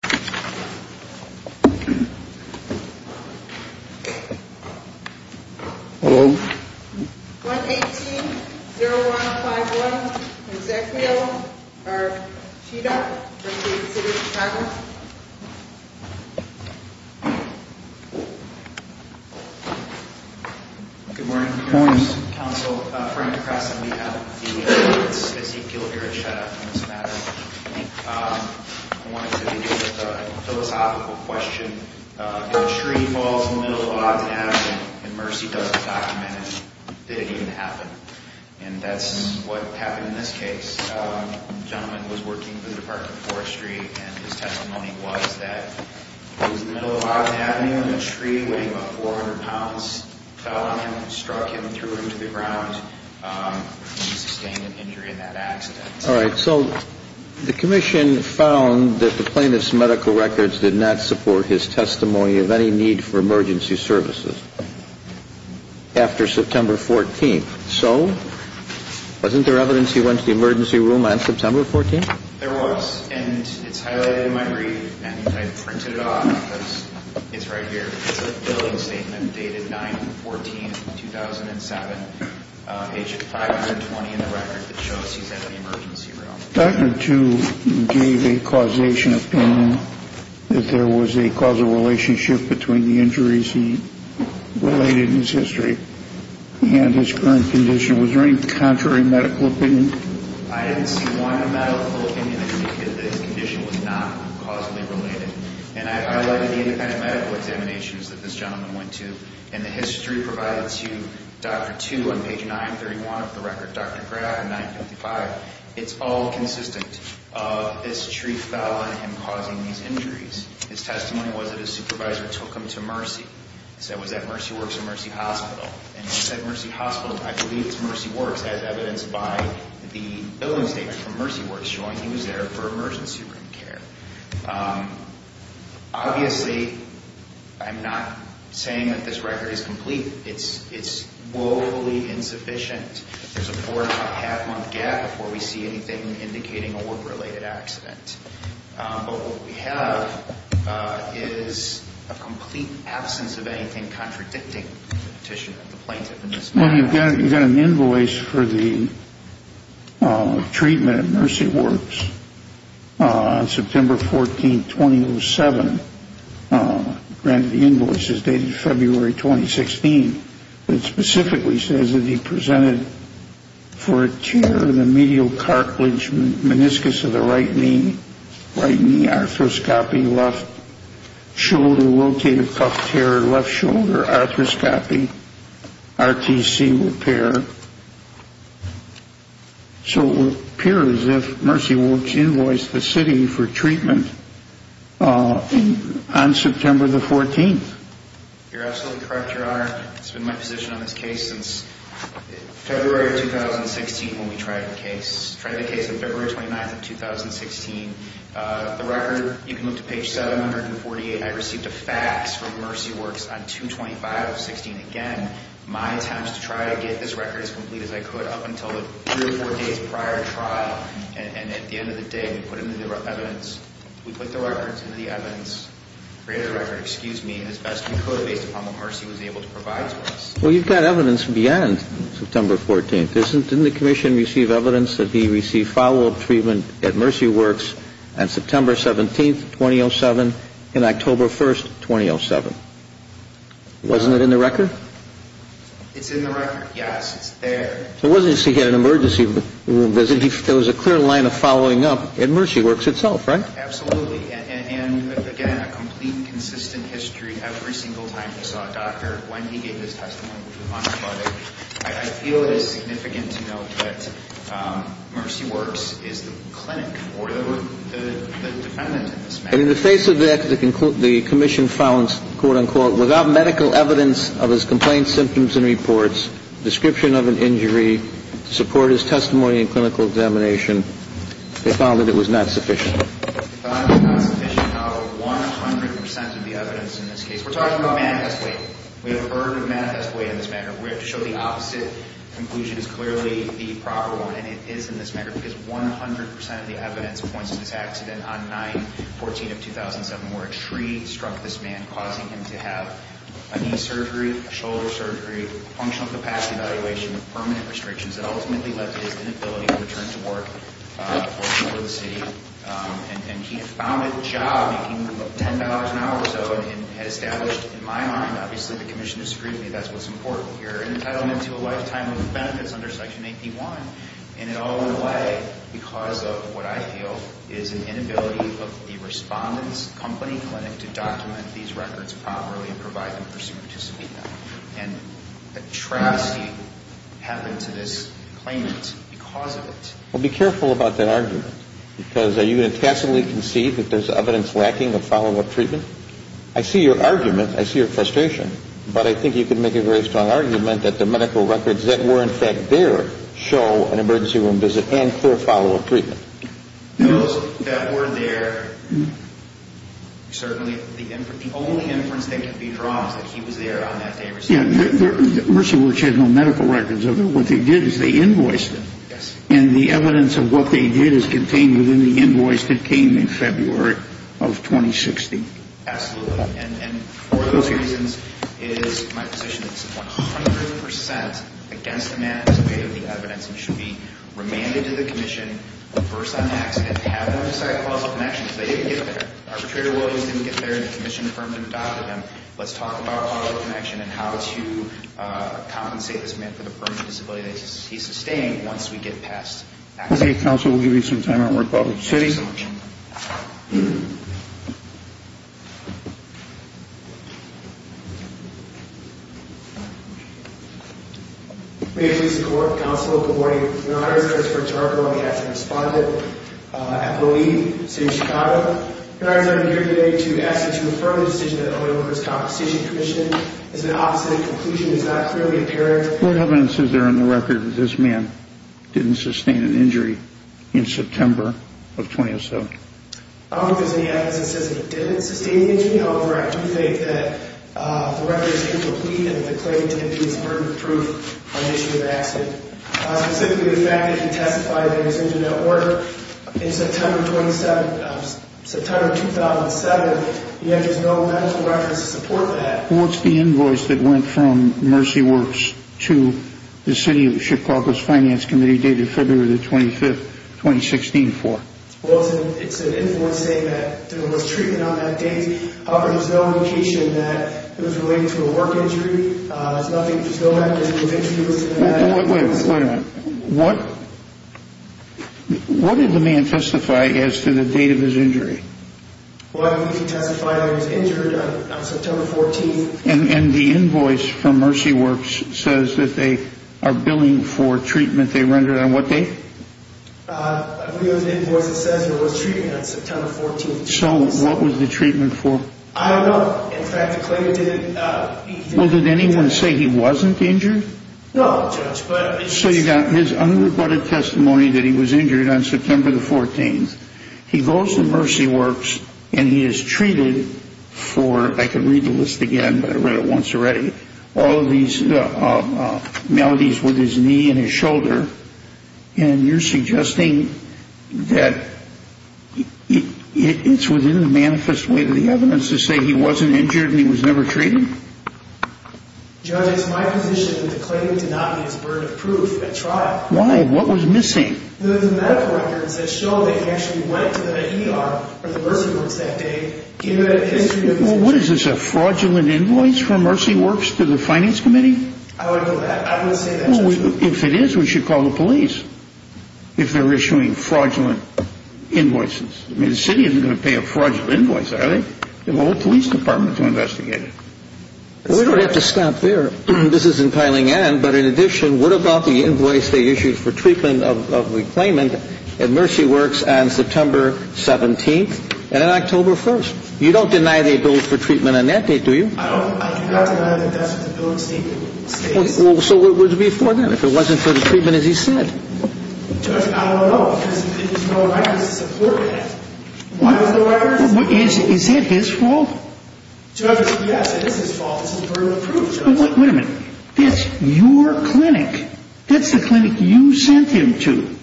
118-0151 Ezekiel R. Sheedock v. City of Chicago Good morning, Council. Frank Cresson, we have Ezekiel here at Sheddock. I wanted to begin with a philosophical question. If a tree falls in the middle of Ogden Avenue and Mercy doesn't document it, did it even happen? And that's what happened in this case. The gentleman was working for the Department of Forestry and his testimony was that he was in the middle of Ogden Avenue when a tree weighing about 400 pounds fell on him and struck him through to the ground. He sustained an injury in that accident. All right, so the Commission found that the plaintiff's medical records did not support his testimony of any need for emergency services after September 14th. So wasn't there evidence he went to the emergency room on September 14th? There was, and it's highlighted in my brief, and I printed it off because it's right here. It's a billing statement dated 9-14-2007, page 520 in the record that shows he's at the emergency room. Dr. Tu gave a causation opinion that there was a causal relationship between the injuries he related in his history and his current condition. Was there any contrary medical opinion? I didn't see one medical opinion that indicated that his condition was not causally related. And I highlighted the independent medical examinations that this gentleman went to, and the history provided to Dr. Tu on page 931 of the record, Dr. Gray on page 955. It's all consistent. This tree fell on him causing these injuries. His testimony was that his supervisor took him to Mercy. He said, was that Mercy Works or Mercy Hospital? And he said Mercy Hospital. I believe it's Mercy Works as evidenced by the billing statement from Mercy Works showing he was there for emergency room care. Obviously, I'm not saying that this record is complete. It's woefully insufficient. There's a four-and-a-half-month gap before we see anything indicating a work-related accident. But what we have is a complete absence of anything contradicting the petition of the plaintiff in this matter. Well, you've got an invoice for the treatment at Mercy Works on September 14, 2007. The invoice is dated February 2016. It specifically says that he presented for a tear in the medial cartilage meniscus of the right knee, right knee arthroscopy, left shoulder rotator cuff tear, left shoulder arthroscopy, RTC repair. So it would appear as if Mercy Works invoiced the city for treatment on September the 14th. You're absolutely correct, Your Honor. It's been my position on this case since February of 2016 when we tried the case. We tried the case on February 29th of 2016. The record, you can look to page 748. I received a fax from Mercy Works on 2-25-16. Again, my attempts to try to get this record as complete as I could up until the three or four days prior trial. And at the end of the day, we put the records into the evidence, created a record, excuse me, as best we could based upon the parts he was able to provide to us. Well, you've got evidence beyond September 14th. Didn't the commission receive evidence that he received follow-up treatment at Mercy Works on September 17th, 2007, and October 1st, 2007? Wasn't it in the record? It's in the record, yes. It's there. So it wasn't as if he had an emergency room visit. There was a clear line of following up at Mercy Works itself, right? Absolutely. And, again, a complete, consistent history every single time he saw a doctor, when he gave his testimony, I feel it is significant to note that Mercy Works is the clinic or the defendant in this matter. And in the face of that, the commission found, quote, unquote, without medical evidence of his complaints, symptoms, and reports, description of an injury, support of his testimony and clinical examination, they found that it was not sufficient. They found it was not sufficient out of 100 percent of the evidence in this case. We're talking about manifest weight. We have a burden of manifest weight in this matter. We have to show the opposite conclusion is clearly the proper one, and it is in this matter, because 100 percent of the evidence points to this accident on 9-14 of 2007, where a tree struck this man, causing him to have a knee surgery, a shoulder surgery, functional capacity evaluation, permanent restrictions that ultimately left his inability to return to work for the city. And he had found a job making $10 an hour or so, and had established, in my mind, obviously the commission disagreed with me. That's what's important here. Entitlement to a lifetime of benefits under Section 81, and it all went away because of what I feel is an inability of the respondent's company clinic to document these records properly and provide them for someone to submit them. And a travesty happened to this claimant because of it. Well, be careful about that argument, because are you going to tacitly concede that there's evidence lacking of follow-up treatment? I see your argument. I see your frustration. But I think you can make a very strong argument that the medical records that were, in fact, there, show an emergency room visit and full follow-up treatment. Those that were there, certainly the only inference that can be drawn is that he was there on that day. Yeah. Mercy Works had no medical records of him. What they did is they invoiced him. And the evidence of what they did is contained within the invoice that came in February of 2016. Absolutely. And for those reasons, it is my position that this is 100 percent against the man who submitted the evidence and should be remanded to the commission, reversed on accident, have them decide to call a follow-up connection because they didn't get there. Arbitrator Williams didn't get there, and the commission affirmed and adopted him. Let's talk about follow-up connection and how to compensate this man for the permanent disability that he sustained once we get past accident. Okay. Counsel, we'll give you some time. We're going to call the city. May it please the Court. Counsel, good morning. Your Honor, this is Christopher Tarco. I'm the acting respondent. I'm the lead in the city of Chicago. Your Honor, I'm here today to ask you to affirm the decision that the Homeowners' Compensation Commission has been opposite in conclusion. It's not clearly apparent. What evidence is there on the record that this man didn't sustain an injury in September of 2007? I don't think there's any evidence that says he didn't sustain an injury. However, I do think that the record is incomplete and the claimant didn't do his burden of proof on the issue of accident. Specifically, the fact that he testified that he was injured at work in September 2007, yet there's no medical records to support that. What's the invoice that went from Mercy Works to the City of Chicago's Finance Committee dated February 25, 2016 for? Well, it's an invoice saying that there was treatment on that date. However, there's no indication that it was related to a work injury. There's no medical records to support that. Wait a minute. What did the man testify as to the date of his injury? Well, he testified that he was injured on September 14th. And the invoice from Mercy Works says that they are billing for treatment they rendered on what date? I believe it was an invoice that says there was treatment on September 14th. So what was the treatment for? I don't know. In fact, the claimant didn't... Well, did anyone say he wasn't injured? No, Judge, but... So you got his unrebutted testimony that he was injured on September the 14th. He goes to Mercy Works, and he is treated for... I could read the list again, but I read it once already. All of these maladies with his knee and his shoulder. And you're suggesting that it's within the manifest way of the evidence to say he wasn't injured and he was never treated? Judge, it's my position that the claimant did not need his burden of proof at trial. Why? What was missing? The medical records that show that he actually went to the ER or the Mercy Works that day... Well, what is this, a fraudulent invoice from Mercy Works to the Finance Committee? I wouldn't say that. Well, if it is, we should call the police if they're issuing fraudulent invoices. I mean, the city isn't going to pay a fraudulent invoice, are they? The whole police department is going to investigate it. We don't have to stop there. This isn't piling in, but in addition, what about the invoice they issued for treatment of the claimant at Mercy Works on September 17th and October 1st? You don't deny they billed for treatment on that date, do you? I do not deny that that's what the bill stated. So what would it be for then, if it wasn't for the treatment as he said? Judge, I don't know, because there's no records to support it. Is that his fault? Judge, yes, it is his fault. It's his burden of proof. Wait a minute. That's your clinic. That's the clinic you sent him to.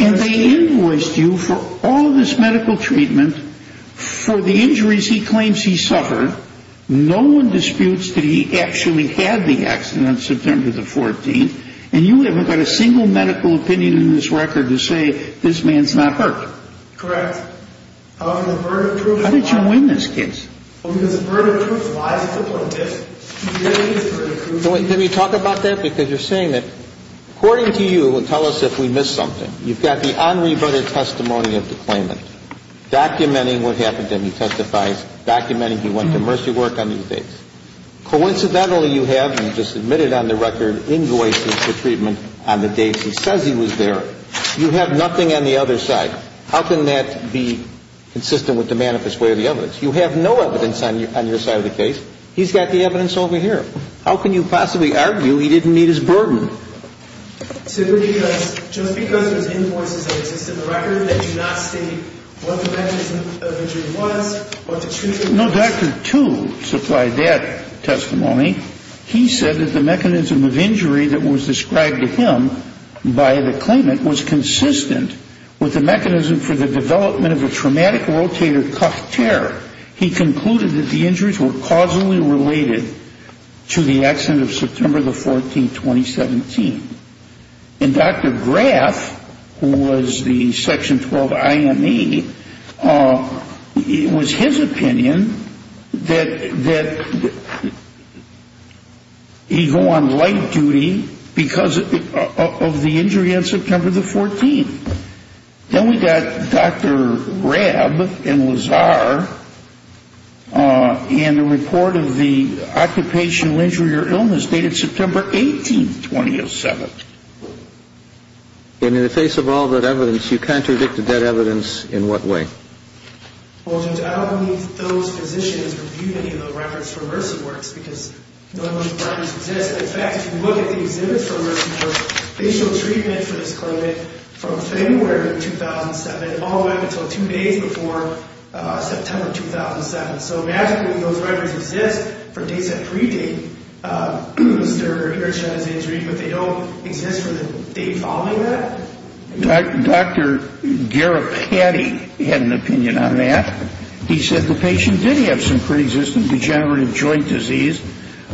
And they invoiced you for all this medical treatment for the injuries he claims he suffered. No one disputes that he actually had the accident on September the 14th. And you haven't got a single medical opinion in this record to say this man's not hurt. Correct. How did you win this case? Well, because of burden of proof. Can we talk about that? Because you're saying that, according to you, tell us if we missed something. You've got the Henri Brother testimony of the claimant, documenting what happened to him. He testifies, documenting he went to Mercy Work on these dates. Coincidentally, you have, and you just admitted on the record, invoices for treatment on the dates he says he was there. You have nothing on the other side. How can that be consistent with the manifest way of the evidence? You have no evidence on your side of the case. He's got the evidence over here. How can you possibly argue he didn't meet his burden? Simply because, just because there's invoices that exist in the record that do not state what the mechanism of injury was, what the treatment was. No, Dr. Tu supplied that testimony. He said that the mechanism of injury that was described to him by the claimant was consistent with the mechanism for the development of a traumatic rotator cuff tear. He concluded that the injuries were causally related to the accident of September the 14th, 2017. And Dr. Graf, who was the Section 12 IME, it was his opinion that he go on light duty because of the injury on September the 14th. Then we got Dr. Grab and Lazar and the report of the occupational injury or illness dated September 18th, 2007. And in the face of all that evidence, you contradicted that evidence in what way? Well, Judge, I don't believe those physicians reviewed any of the records from Mercy Works because not many records exist. In fact, if you look at the exhibits from Mercy Works, they show treatment for this climate from February 2007 all the way up until two days before September 2007. So, magically, those records exist for dates that predate Mr. Hiroshima's injury, but they don't exist for the date following that? Dr. Garapatti had an opinion on that. He said the patient did have some pre-existing degenerative joint disease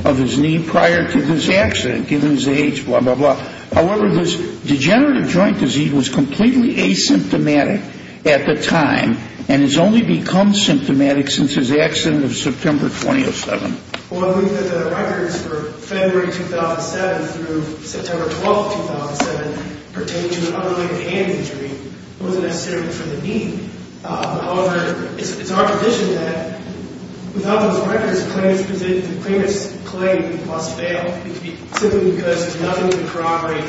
of his knee prior to this accident, given his age, blah, blah, blah. However, this degenerative joint disease was completely asymptomatic at the time and has only become symptomatic since his accident of September 2007. Well, I believe that the records for February 2007 through September 12th, 2007 pertain to an other-legged hand injury. It wasn't necessarily for the knee. However, it's our position that without those records, the claimants' claim must fail simply because there's nothing to corroborate.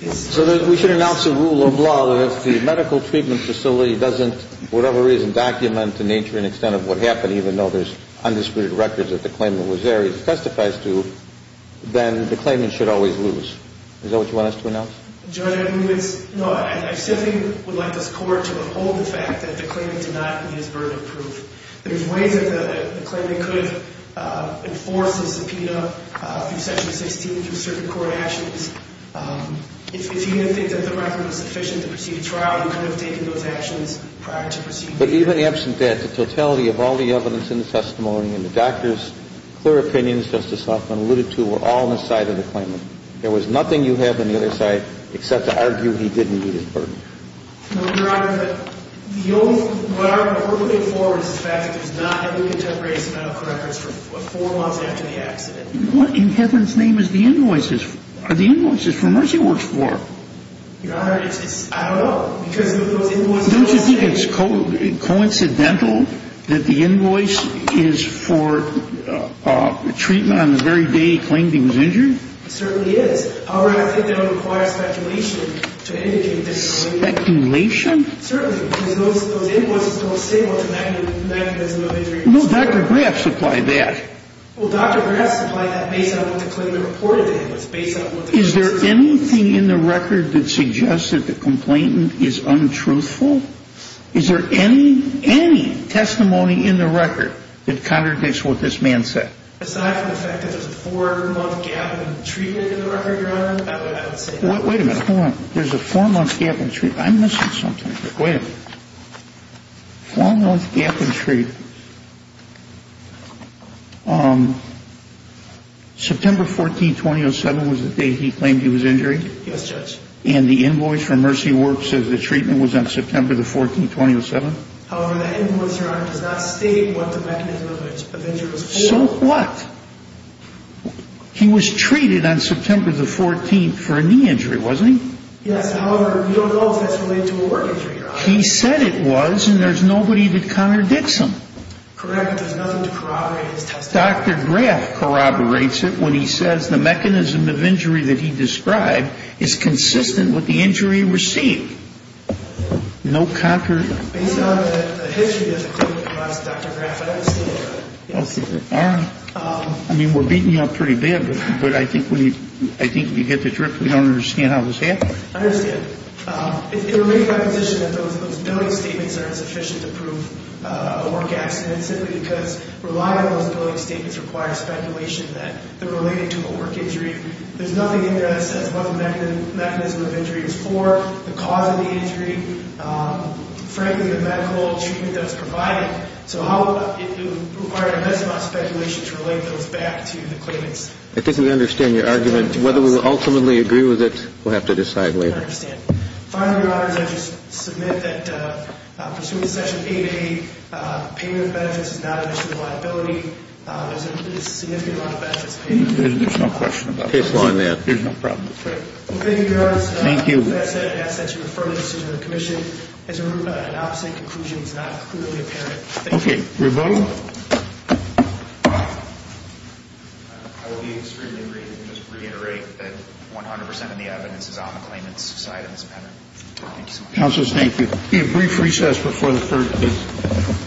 So we should announce a rule of law that if the medical treatment facility doesn't, whatever reason, document the nature and extent of what happened, even though there's undisputed records that the claimant was there, he testifies to, then the claimant should always lose. Is that what you want us to announce? Your Honor, I simply would like this Court to uphold the fact that the claimant did not need his verdict proof. There's ways that the claimant could enforce his subpoena through Section 16, through circuit court actions. If he didn't think that the record was sufficient to proceed to trial, he could have taken those actions prior to proceeding. But even absent that, the totality of all the evidence in the testimony and the doctor's clear opinions, Justice Hoffman alluded to, were all on the side of the claimant. There was nothing you have on the other side except to argue he didn't need his verdict. No, Your Honor, but what we're looking for is the fact that there's not any contemporaneous medical records for four months after the accident. What in heaven's name are the invoices for Mercy Works 4? Your Honor, I don't know. Don't you think it's coincidental that the invoice is for treatment on the very day he claimed he was injured? It certainly is. However, I think that it would require speculation to indicate that he was injured. Speculation? Certainly, because those invoices don't say what the mechanism of injury is. No, Dr. Graff supplied that. Well, Dr. Graff supplied that based on what the claimant reported to him. Is there anything in the record that suggests that the complainant is untruthful? Is there any, any testimony in the record that contradicts what this man said? Aside from the fact that there's a four-month gap in treatment in the record, Your Honor, I would say that. Wait a minute, hold on. There's a four-month gap in treatment. I'm missing something. Wait a minute. Four-month gap in treatment. September 14, 2007 was the day he claimed he was injured? Yes, Judge. And the invoice from Mercy Works says the treatment was on September the 14th, 2007? However, that invoice, Your Honor, does not state what the mechanism of injury was for. So what? He was treated on September the 14th for a knee injury, wasn't he? Yes, however, we don't know if that's related to a work injury, Your Honor. He said it was, and there's nobody that contradicts him. Correct. There's nothing to corroborate in his testimony. Dr. Graff corroborates it when he says the mechanism of injury that he described is consistent with the injury he received. No contrary? Based on the history of the treatment of Dr. Graff, I understand that. Okay. All right. I mean, we're beating you up pretty bad, but I think we get the drift. We don't understand how this happened. I understand. It remains my position that those billing statements aren't sufficient to prove a work accident, simply because relying on those billing statements requires speculation that they're related to a work injury. There's nothing in there that says what the mechanism of injury is for, the cause of the injury, frankly, the medical treatment that was provided. So how would it require investment speculation to relate those back to the claimants? I think we understand your argument. Whether we will ultimately agree with it, we'll have to decide later. I understand. Finally, Your Honors, I just submit that, pursuant to Section 8A, payment of benefits is not an issue of liability. There's a significant amount of benefits paid. There's no question about that. Case law in the act. There's no problem with that. Thank you, Your Honors. Thank you. With that said, I ask that you refer the decision to the commission. As a result, an opposite conclusion is not clearly apparent. Okay. Rebuttal? I will be extremely brief and just reiterate that 100% of the evidence is on the claimant's side of this payment. Thank you so much. Counselors, thank you. We have a brief recess before the third case.